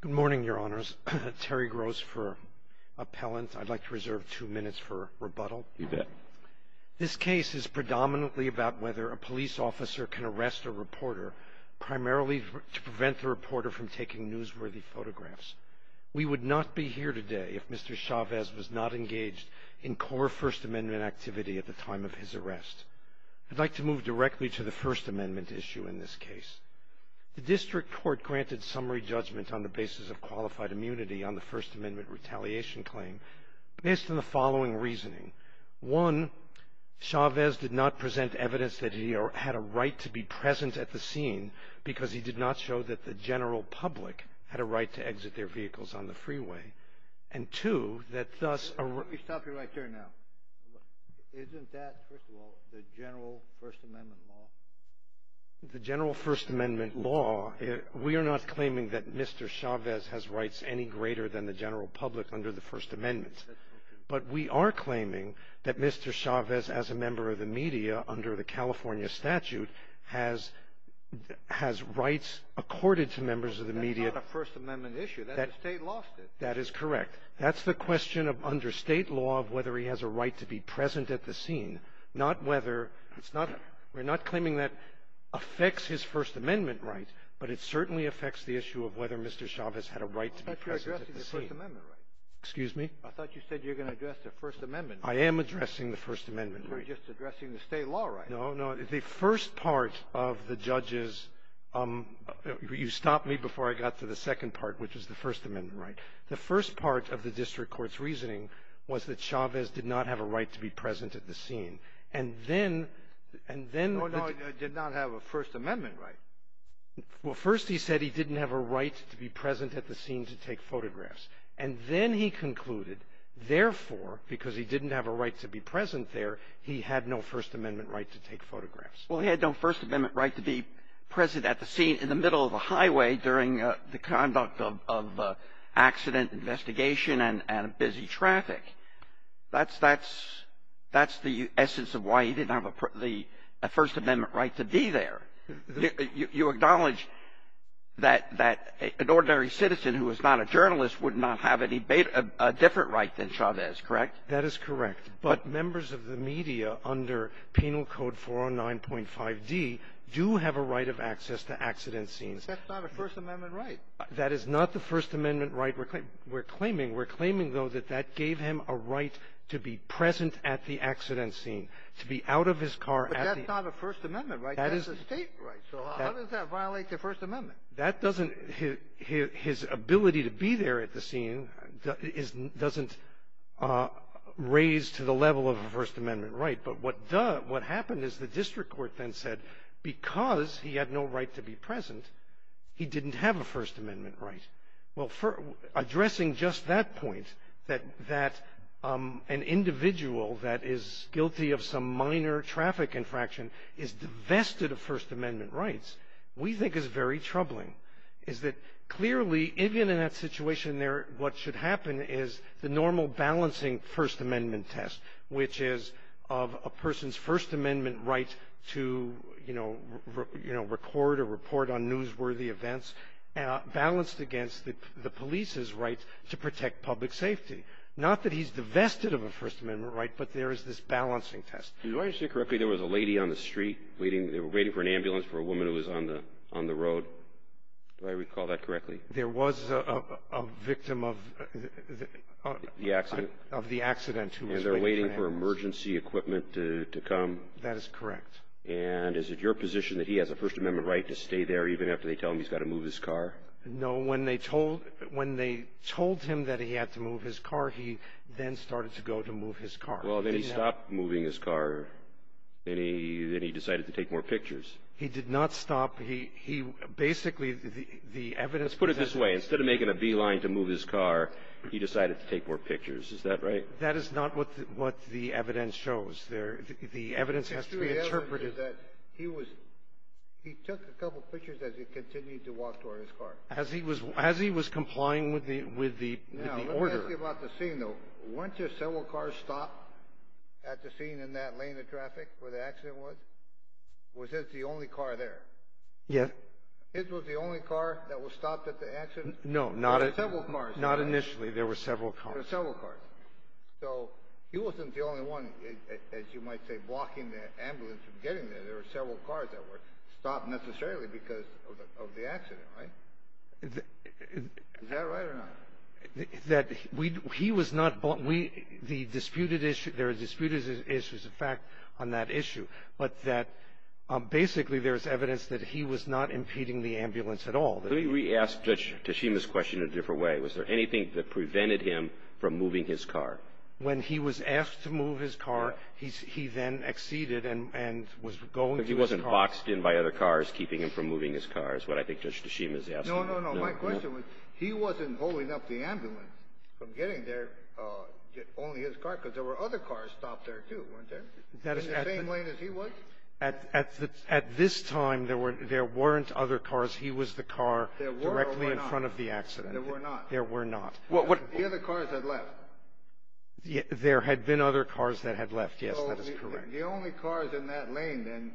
Good morning, Your Honors. Terry Gross for Appellant. I'd like to reserve two minutes for rebuttal. You bet. This case is predominantly about whether a police officer can arrest a reporter, primarily to prevent the reporter from taking newsworthy photographs. We would not be here today if Mr. Chavez was not engaged in core First Amendment activity at the time of his arrest. I'd like to move directly to the First Amendment issue in this case. The district court granted summary judgment on the basis of qualified immunity on the First Amendment retaliation claim based on the following reasoning. One, Chavez did not present evidence that he had a right to be present at the scene because he did not show that the general public had a right to exit their vehicles on the freeway. And two, that thus... Let me stop you right there now. Isn't that, first of all, the general First Amendment law? The general First Amendment law, we are not claiming that Mr. Chavez has rights any greater than the general public under the First Amendment. But we are claiming that Mr. Chavez, as a member of the media under the California statute, has rights accorded to members of the media... That's not a First Amendment issue. The State lost it. That is correct. That's the question under State law of whether he has a right to be present at the scene, not whether it's not we're not claiming that affects his First Amendment rights, but it certainly affects the issue of whether Mr. Chavez had a right to be present at the scene. I thought you were addressing the First Amendment rights. Excuse me? I thought you said you were going to address the First Amendment rights. I am addressing the First Amendment rights. You were just addressing the State law rights. No, no. The first part of the judge's — you stopped me before I got to the second part, which is the First Amendment right. The first part of the district court's reasoning was that Chavez did not have a right to be present at the scene. And then — No, no. He did not have a First Amendment right. Well, first he said he didn't have a right to be present at the scene to take photographs. And then he concluded, therefore, because he didn't have a right to be present there, he had no First Amendment right to take photographs. Well, he had no First Amendment right to be present at the scene in the middle of a highway during the conduct of accident investigation and busy traffic. That's the essence of why he didn't have a First Amendment right to be there. You acknowledge that an ordinary citizen who is not a journalist would not have a different right than Chavez, correct? That is correct. But members of the media under Penal Code 409.5d do have a right of access to accident scenes. That's not a First Amendment right. That is not the First Amendment right we're claiming. We're claiming, though, that that gave him a right to be present at the accident scene, to be out of his car at the — But that's not a First Amendment right. That is a State right. So how does that violate the First Amendment? That doesn't — his ability to be there at the scene doesn't raise to the level of a First Amendment right. But what happened is the district court then said, because he had no right to be present, he didn't have a First Amendment right. Well, addressing just that point, that an individual that is guilty of some minor traffic infraction is divested of First Amendment rights, we think is very troubling, is that clearly, even in that situation there, what should happen is the normal balancing First Amendment test, which is of a person's First Amendment right to, you know, record or report on newsworthy events, balanced against the police's right to protect public safety. Not that he's divested of a First Amendment right, but there is this balancing test. Do I understand correctly there was a lady on the street waiting for an ambulance for a woman who was on the road? Do I recall that correctly? There was a victim of the accident who was waiting for an ambulance. And they're waiting for emergency equipment to come? That is correct. And is it your position that he has a First Amendment right to stay there even after they tell him he's got to move his car? No. When they told him that he had to move his car, he then started to go to move his car. Well, then he stopped moving his car. Then he decided to take more pictures. He did not stop. Let's put it this way. Instead of making a beeline to move his car, he decided to take more pictures. Is that right? That is not what the evidence shows. The evidence has to be interpreted. He took a couple pictures as he continued to walk toward his car. As he was complying with the order. Now, let me ask you about the scene, though. Weren't there several cars stopped at the scene in that lane of traffic where the accident was? Was it the only car there? Yes. It was the only car that was stopped at the accident? No, not initially. There were several cars. There were several cars. So, he wasn't the only one, as you might say, blocking the ambulance from getting there. There were several cars that were stopped necessarily because of the accident, right? Is that right or not? That he was not the disputed issue. There are disputed issues, in fact, on that issue. But that basically there's evidence that he was not impeding the ambulance at all. Let me re-ask Judge Tashima's question in a different way. Was there anything that prevented him from moving his car? When he was asked to move his car, he then acceded and was going to his car. But he wasn't boxed in by other cars, keeping him from moving his car, is what I think Judge Tashima is asking. No, no, no. My question was, he wasn't holding up the ambulance from getting there, only his car, because there were other cars stopped there, too, weren't there? In the same lane as he was? At this time, there weren't other cars. He was the car directly in front of the accident. There were or were not? There were not. There were not. The other cars had left. There had been other cars that had left. Yes, that is correct. The only cars in that lane then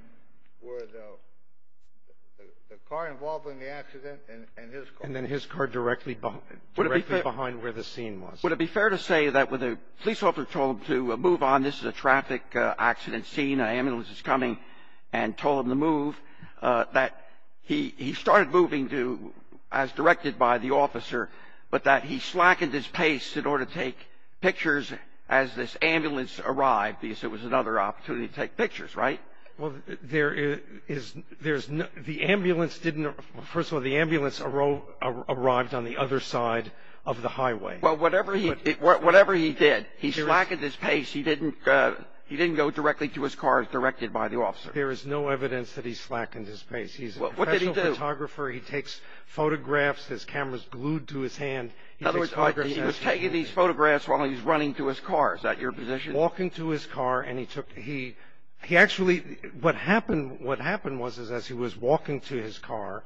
were the car involved in the accident and his car. And then his car directly behind where the scene was. Would it be fair to say that when the police officer told him to move on, this is a traffic accident scene, an ambulance is coming, and told him to move, that he started moving as directed by the officer, but that he slackened his pace in order to take pictures as this ambulance arrived, because it was another opportunity to take pictures, right? Well, there is no – the ambulance didn't – first of all, the ambulance arrived on the other side of the highway. Well, whatever he did, he slackened his pace. He didn't go directly to his car as directed by the officer. There is no evidence that he slackened his pace. He's a professional photographer. He takes photographs. His camera is glued to his hand. In other words, he was taking these photographs while he was running to his car. Is that your position? Walking to his car, and he took – he actually – what happened was is as he was walking to his car,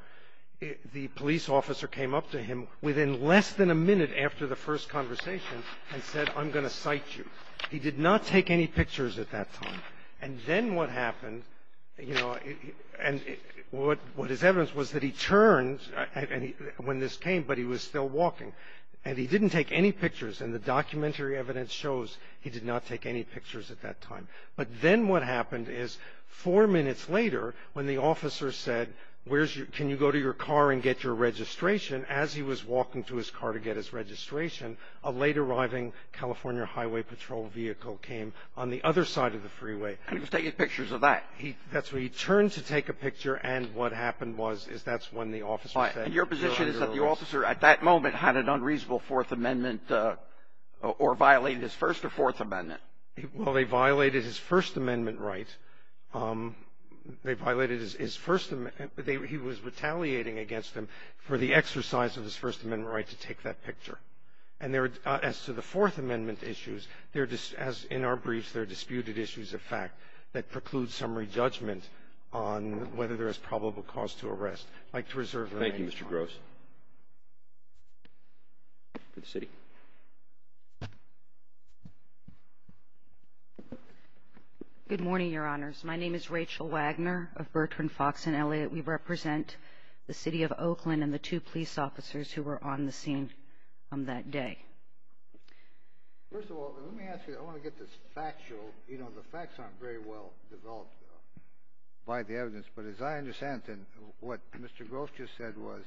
the police officer came up to him within less than a minute after the first conversation and said, I'm going to cite you. He did not take any pictures at that time. And then what happened, you know, and what is evidence was that he turned when this came, but he was still walking, and he didn't take any pictures, and the documentary evidence shows he did not take any pictures at that time. But then what happened is four minutes later when the officer said, can you go to your car and get your registration, as he was walking to his car to get his registration, a late-arriving California Highway Patrol vehicle came on the other side of the freeway. And he was taking pictures of that? That's right. He turned to take a picture, and what happened was is that's when the officer said. And your position is that the officer at that moment had an unreasonable Fourth Amendment or violated his First or Fourth Amendment? Well, they violated his First Amendment right. They violated his First – he was retaliating against him for the exercise of his First Amendment right to take that picture. And as to the Fourth Amendment issues, as in our briefs, they're disputed issues of fact that preclude summary judgment on whether there is probable cause to arrest. I'd like to reserve the rest of my time. Thank you, Mr. Gross. For the city. Good morning, Your Honors. My name is Rachel Wagner of Bertrand, Fox & Elliott. We represent the city of Oakland and the two police officers who were on the scene on that day. First of all, let me ask you, I want to get this factual. You know, the facts aren't very well developed by the evidence. But as I understand it, what Mr. Gross just said was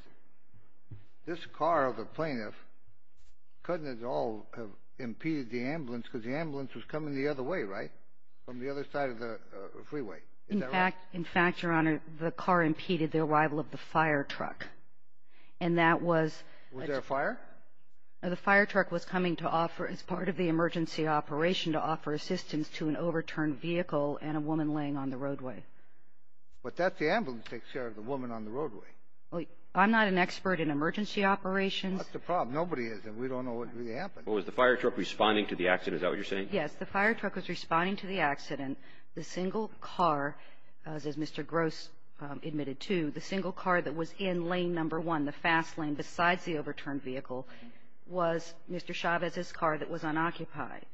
this car of the plaintiff couldn't at all have impeded the ambulance because the ambulance was coming the other way, right, Is that right? In fact, Your Honor, the car impeded the arrival of the fire truck. And that was – Was there a fire? The fire truck was coming to offer – as part of the emergency operation to offer assistance to an overturned vehicle and a woman laying on the roadway. But that's the ambulance that takes care of the woman on the roadway. I'm not an expert in emergency operations. That's the problem. Nobody is, and we don't know what really happened. Well, was the fire truck responding to the accident? Is that what you're saying? Yes. The fire truck was responding to the accident. The single car, as Mr. Gross admitted to, the single car that was in lane number one, the fast lane besides the overturned vehicle, was Mr. Chavez's car that was unoccupied.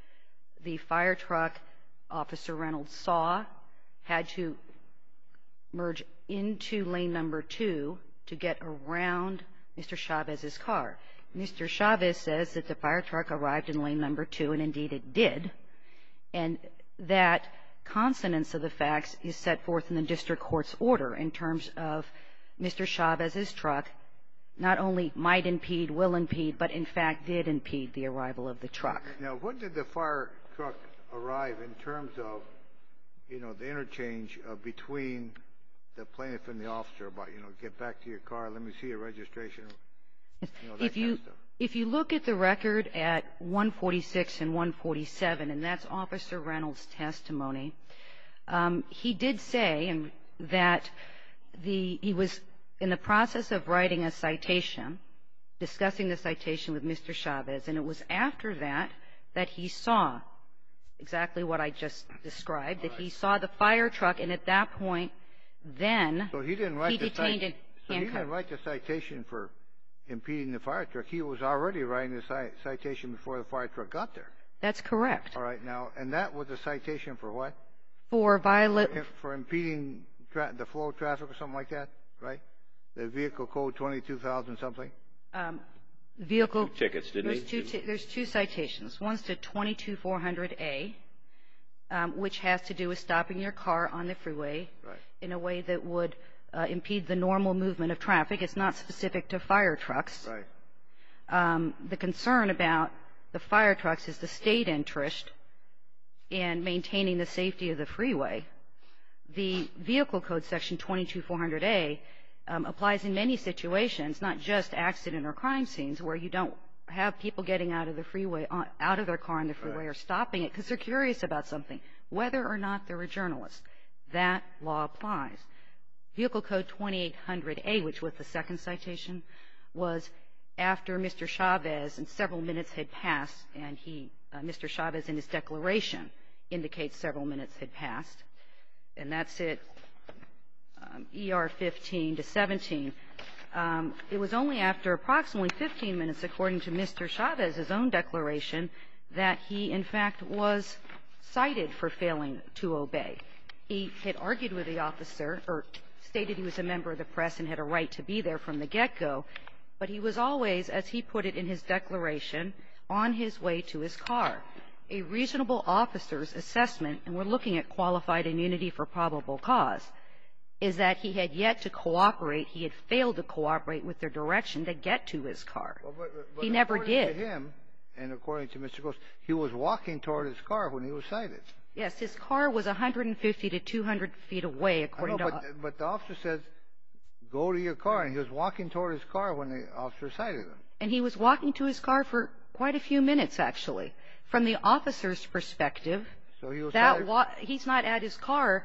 The fire truck, Officer Reynolds saw, had to merge into lane number two to get around Mr. Chavez's car. Mr. Chavez says that the fire truck arrived in lane number two, and indeed it did, and that consonance of the facts is set forth in the district court's order in terms of Mr. Chavez's truck not only might impede, will impede, but in fact did impede the arrival of the truck. Now, when did the fire truck arrive in terms of, you know, the interchange between the plaintiff and the officer about, you know, get back to your car, let me see your registration, you know, that kind of stuff? If you look at the record at 146 and 147, and that's Officer Reynolds' testimony, he did say that he was in the process of writing a citation, discussing the citation with Mr. Chavez, and it was after that that he saw exactly what I just described, that he saw the fire truck, and at that point then he detained him. So he didn't write the citation for impeding the fire truck. He was already writing the citation before the fire truck got there. That's correct. All right, now, and that was a citation for what? For violating. For impeding the flow of traffic or something like that, right? The vehicle code 22,000-something? Vehicle. Two tickets, didn't he? There's two citations. One's the 22400A, which has to do with stopping your car on the freeway in a way that would impede the normal movement of traffic. It's not specific to fire trucks. Right. The concern about the fire trucks is the State interest in maintaining the safety of the freeway. The vehicle code section 22400A applies in many situations, not just accident or crime scenes, where you don't have people getting out of the freeway, out of their car on the freeway or stopping it because they're curious about something, whether or not they're a journalist. That law applies. Vehicle code 2800A, which was the second citation, was after Mr. Chavez and several minutes had passed, and Mr. Chavez in his declaration indicates several minutes had passed. And that's it, ER 15 to 17. It was only after approximately 15 minutes, according to Mr. Chavez's own declaration, that he, in fact, was cited for failing to obey. He had argued with the officer or stated he was a member of the press and had a right to be there from the get-go, but he was always, as he put it in his declaration, on his way to his car. A reasonable officer's assessment, and we're looking at qualified immunity for probable cause, is that he had yet to cooperate, he had failed to cooperate with their direction to get to his car. He never did. According to him, and according to Mr. Gross, he was walking toward his car when he was cited. Yes. His car was 150 to 200 feet away, according to him. But the officer says, go to your car, and he was walking toward his car when the officer cited him. And he was walking to his car for quite a few minutes, actually. From the officer's perspective, he's not at his car.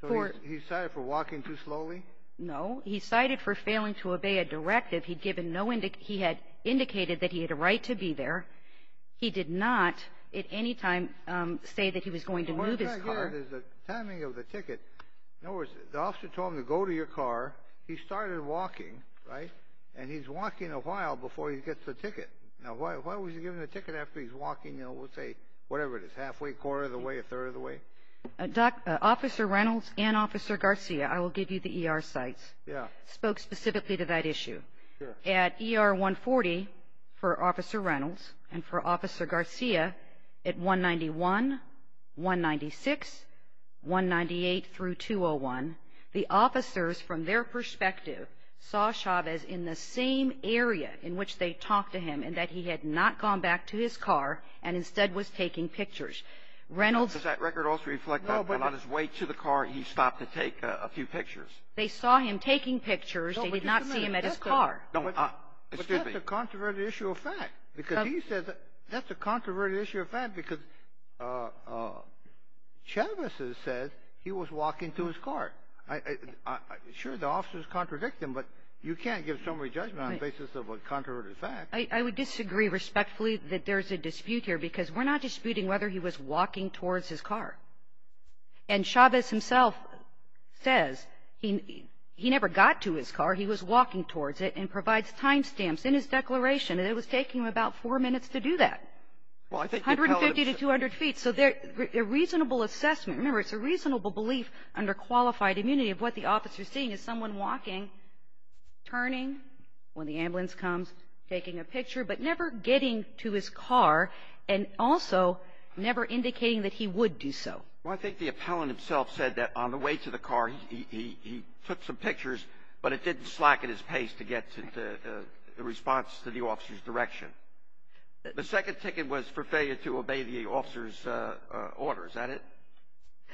So he's cited for walking too slowly? No. He's cited for failing to obey a directive. He had indicated that he had a right to be there. He did not at any time say that he was going to move his car. The timing of the ticket, in other words, the officer told him to go to your car. He started walking, right, and he's walking a while before he gets the ticket. Now, why was he given the ticket after he's walking, you know, we'll say, whatever it is, halfway, quarter of the way, a third of the way? Officer Reynolds and Officer Garcia, I will give you the ER sites, spoke specifically to that issue. Sure. At ER 140 for Officer Reynolds and for Officer Garcia, at 191, 196, 198 through 201, the officers, from their perspective, saw Chavez in the same area in which they talked to him in that he had not gone back to his car and instead was taking pictures. Does that record also reflect that when on his way to the car, he stopped to take a few pictures? They saw him taking pictures. They did not see him at his car. That's a controversial issue of fact because he says that's a controversial issue of fact because Chavez says he was walking to his car. Sure, the officers contradict him, but you can't give summary judgment on the basis of a controversial fact. I would disagree respectfully that there's a dispute here because we're not disputing whether he was walking towards his car. And Chavez himself says he never got to his car, he was walking towards it, and provides timestamps in his declaration, and it was taking him about four minutes to do that. 150 to 200 feet. So there's a reasonable assessment. Remember, it's a reasonable belief under qualified immunity of what the officer is seeing is someone walking, turning when the ambulance comes, taking a picture, but never getting to his car, and also never indicating that he would do so. Well, I think the appellant himself said that on the way to the car, he took some pictures, but it didn't slacken his pace to get to the response to the officer's direction. The second ticket was for failure to obey the officer's order. Is that it?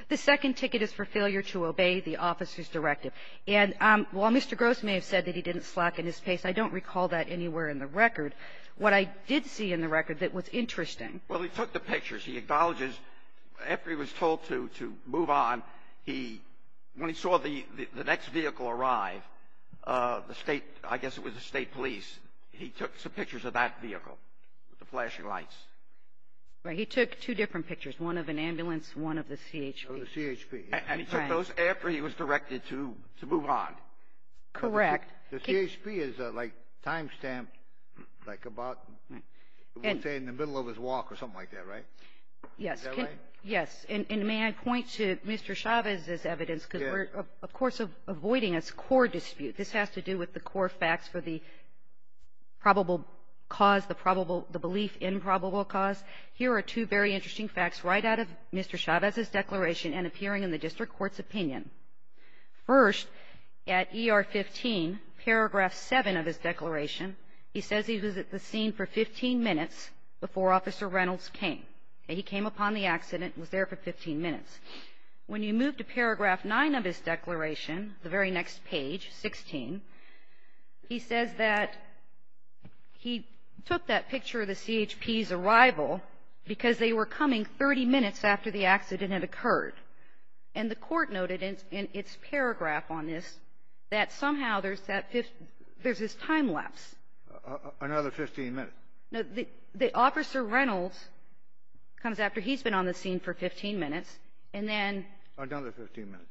The second ticket is for failure to obey the officer's directive. And while Mr. Gross may have said that he didn't slacken his pace, I don't recall that anywhere in the record. What I did see in the record that was interesting. Well, he took the pictures. He acknowledges after he was told to move on, when he saw the next vehicle arrive, the state, I guess it was the state police, he took some pictures of that vehicle with the flashing lights. Right. He took two different pictures, one of an ambulance, one of the CHP. Oh, the CHP. And he took those after he was directed to move on. Correct. The CHP is like time-stamped, like about, we'll say in the middle of his walk or something like that, right? Yes. Is that right? Yes. And may I point to Mr. Chavez's evidence because we're, of course, avoiding his core dispute. This has to do with the core facts for the probable cause, the belief in probable cause. Here are two very interesting facts right out of Mr. Chavez's declaration and appearing in the district court's opinion. First, at ER 15, paragraph 7 of his declaration, he says he was at the scene for 15 minutes before Officer Reynolds came. He came upon the accident and was there for 15 minutes. When you move to paragraph 9 of his declaration, the very next page, 16, he says that he took that picture of the CHP's arrival and the court noted in its paragraph on this that somehow there's that 15 — there's this time lapse. Another 15 minutes. No. The Officer Reynolds comes after he's been on the scene for 15 minutes, and then — Another 15 minutes.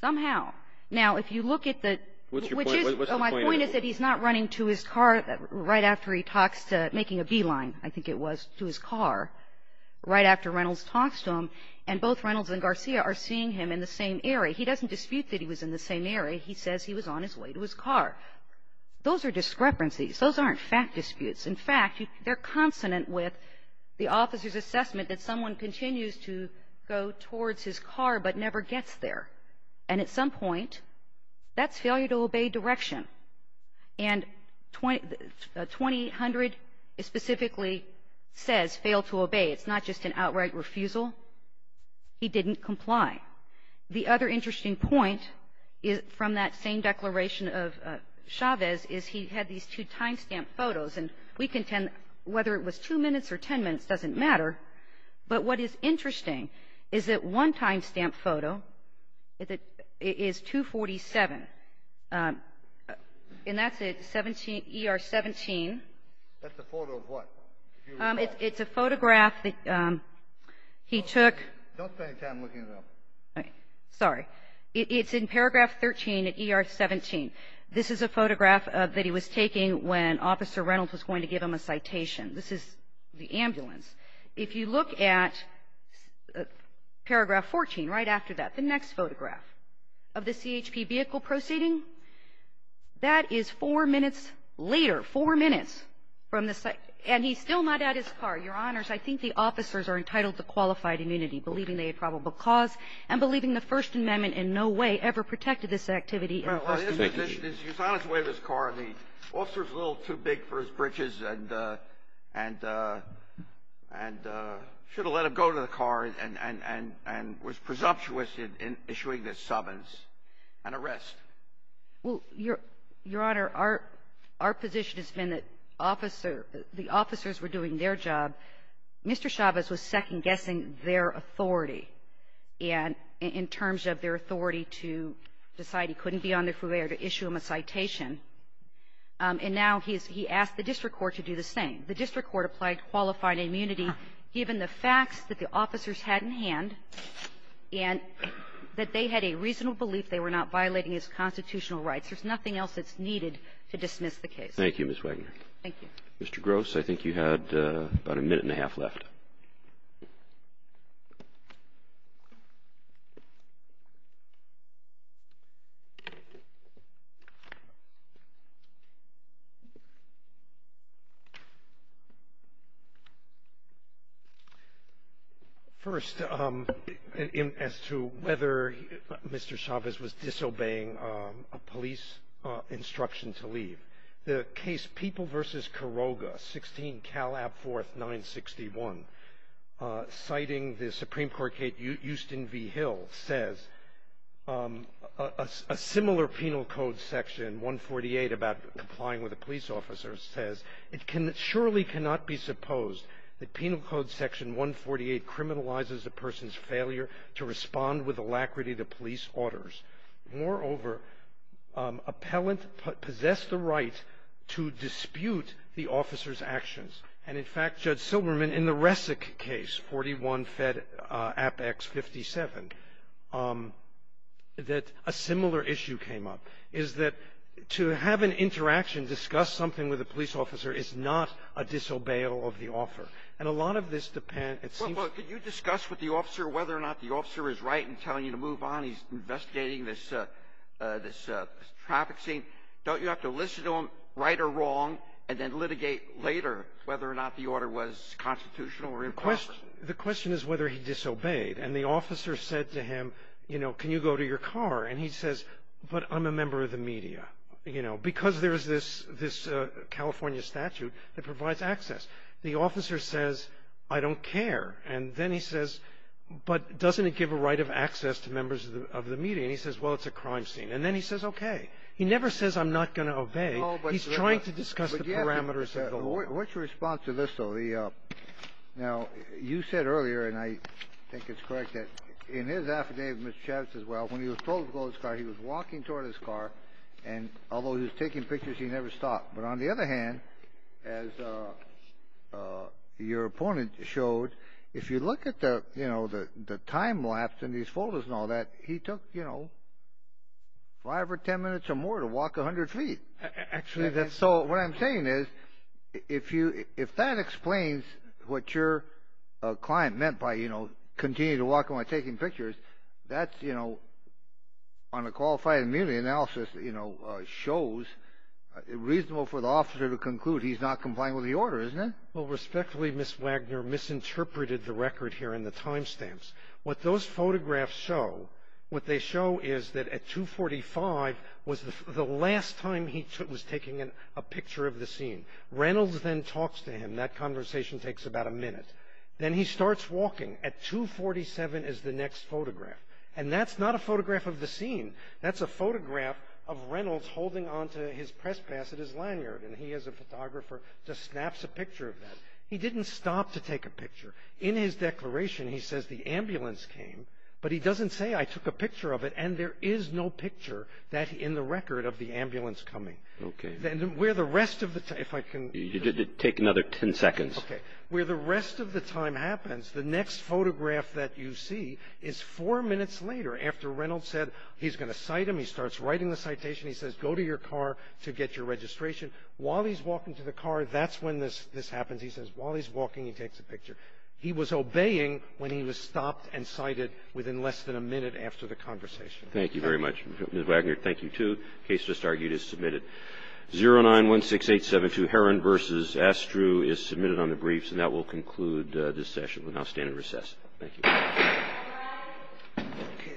Somehow. Now, if you look at the — What's your point? What's the point? My point is that he's not running to his car right after he talks to — making a beeline, I think it was, to his car right after Reynolds talks to him. And both Reynolds and Garcia are seeing him in the same area. He doesn't dispute that he was in the same area. He says he was on his way to his car. Those are discrepancies. Those aren't fact disputes. In fact, they're consonant with the officer's assessment that someone continues to go towards his car but never gets there. And at some point, that's failure to obey direction. And 2800 specifically says fail to obey. It's not just an outright refusal. He didn't comply. The other interesting point from that same declaration of Chavez is he had these two time stamp photos. And we contend whether it was two minutes or ten minutes doesn't matter. But what is interesting is that one time stamp photo is 247, and that's at ER 17. That's a photo of what? It's a photograph that he took. Don't spend any time looking it up. Sorry. It's in paragraph 13 at ER 17. This is a photograph that he was taking when Officer Reynolds was going to give him a citation. This is the ambulance. If you look at paragraph 14 right after that, the next photograph of the CHP vehicle proceeding, that is four minutes later, four minutes from the site. And he's still not at his car. Your Honors, I think the officers are entitled to qualified immunity, believing they had probable cause and believing the First Amendment in no way ever protected this activity in the first instance. He was on his way to his car, and the officer was a little too big for his britches and should have let him go to the car and was presumptuous in issuing this summons and arrest. Well, Your Honor, our position has been that the officers were doing their job. Mr. Chavez was second-guessing their authority in terms of their authority to decide and he couldn't be on their forbearance to issue them a citation. And now he's asked the district court to do the same. The district court applied qualified immunity given the facts that the officers had in hand and that they had a reasonable belief they were not violating his constitutional rights. There's nothing else that's needed to dismiss the case. Thank you, Ms. Wagner. Thank you. Mr. Gross, I think you had about a minute and a half left. Go ahead. First, as to whether Mr. Chavez was disobeying a police instruction to leave, the case People v. Kiroga, 16 Cal. Ab. 4th. 961, citing the Supreme Court case Houston v. Hill, says a similar penal code section, 148, about complying with a police officer, says it surely cannot be supposed that penal code section 148 criminalizes a person's failure to respond with alacrity to police orders. Moreover, appellant possessed the right to dispute the officer's actions. And, in fact, Judge Silberman, in the Resic case, 41 Fed. App. X. 57, that a similar issue came up, is that to have an interaction, discuss something with a police officer is not a disobeyal of the offer. And a lot of this depends — Well, could you discuss with the officer whether or not the officer is right in telling you to move on, he's investigating this traffic scene, don't you have to listen to him, right or wrong, and then litigate later whether or not the order was constitutional or improper? The question is whether he disobeyed. And the officer said to him, you know, can you go to your car? And he says, but I'm a member of the media, you know, because there is this California statute that provides access. The officer says, I don't care. And then he says, but doesn't it give a right of access to members of the media? And he says, well, it's a crime scene. And then he says, okay. He never says I'm not going to obey. He's trying to discuss the parameters of the law. What's your response to this, though? Now, you said earlier, and I think it's correct, that in his affidavit, Mr. Chavis as well, when he was told to go to his car, he was walking toward his car, and although he was taking pictures, he never stopped. But on the other hand, as your opponent showed, if you look at the time lapse in these photos and all that, he took, you know, five or ten minutes or more to walk 100 feet. Actually, that's so. What I'm saying is if that explains what your client meant by, you know, continue to walk when taking pictures, that's, you know, on a qualified immunity analysis, you know, shows, it's reasonable for the officer to conclude he's not complying with the order, isn't it? Well, respectfully, Ms. Wagner misinterpreted the record here in the time stamps. What those photographs show, what they show is that at 245 was the last time he was taking a picture of the scene. Reynolds then talks to him. That conversation takes about a minute. Then he starts walking. At 247 is the next photograph. And that's not a photograph of the scene. That's a photograph of Reynolds holding onto his press pass at his lanyard. And he, as a photographer, just snaps a picture of that. He didn't stop to take a picture. In his declaration, he says the ambulance came. But he doesn't say, I took a picture of it. And there is no picture in the record of the ambulance coming. Okay. Then where the rest of the time, if I can. Take another ten seconds. Okay. Where the rest of the time happens, the next photograph that you see is four minutes later, after Reynolds said he's going to cite him. He starts writing the citation. He says, go to your car to get your registration. While he's walking to the car, that's when this happens. He says, while he's walking, he takes a picture. He was obeying when he was stopped and cited within less than a minute after the conversation. Thank you very much. Ms. Wagner, thank you, too. The case just argued is submitted. 0916872 Herron v. Astru is submitted on the briefs. And that will conclude this session. We'll now stand in recess. Thank you. Thank you. Thank you.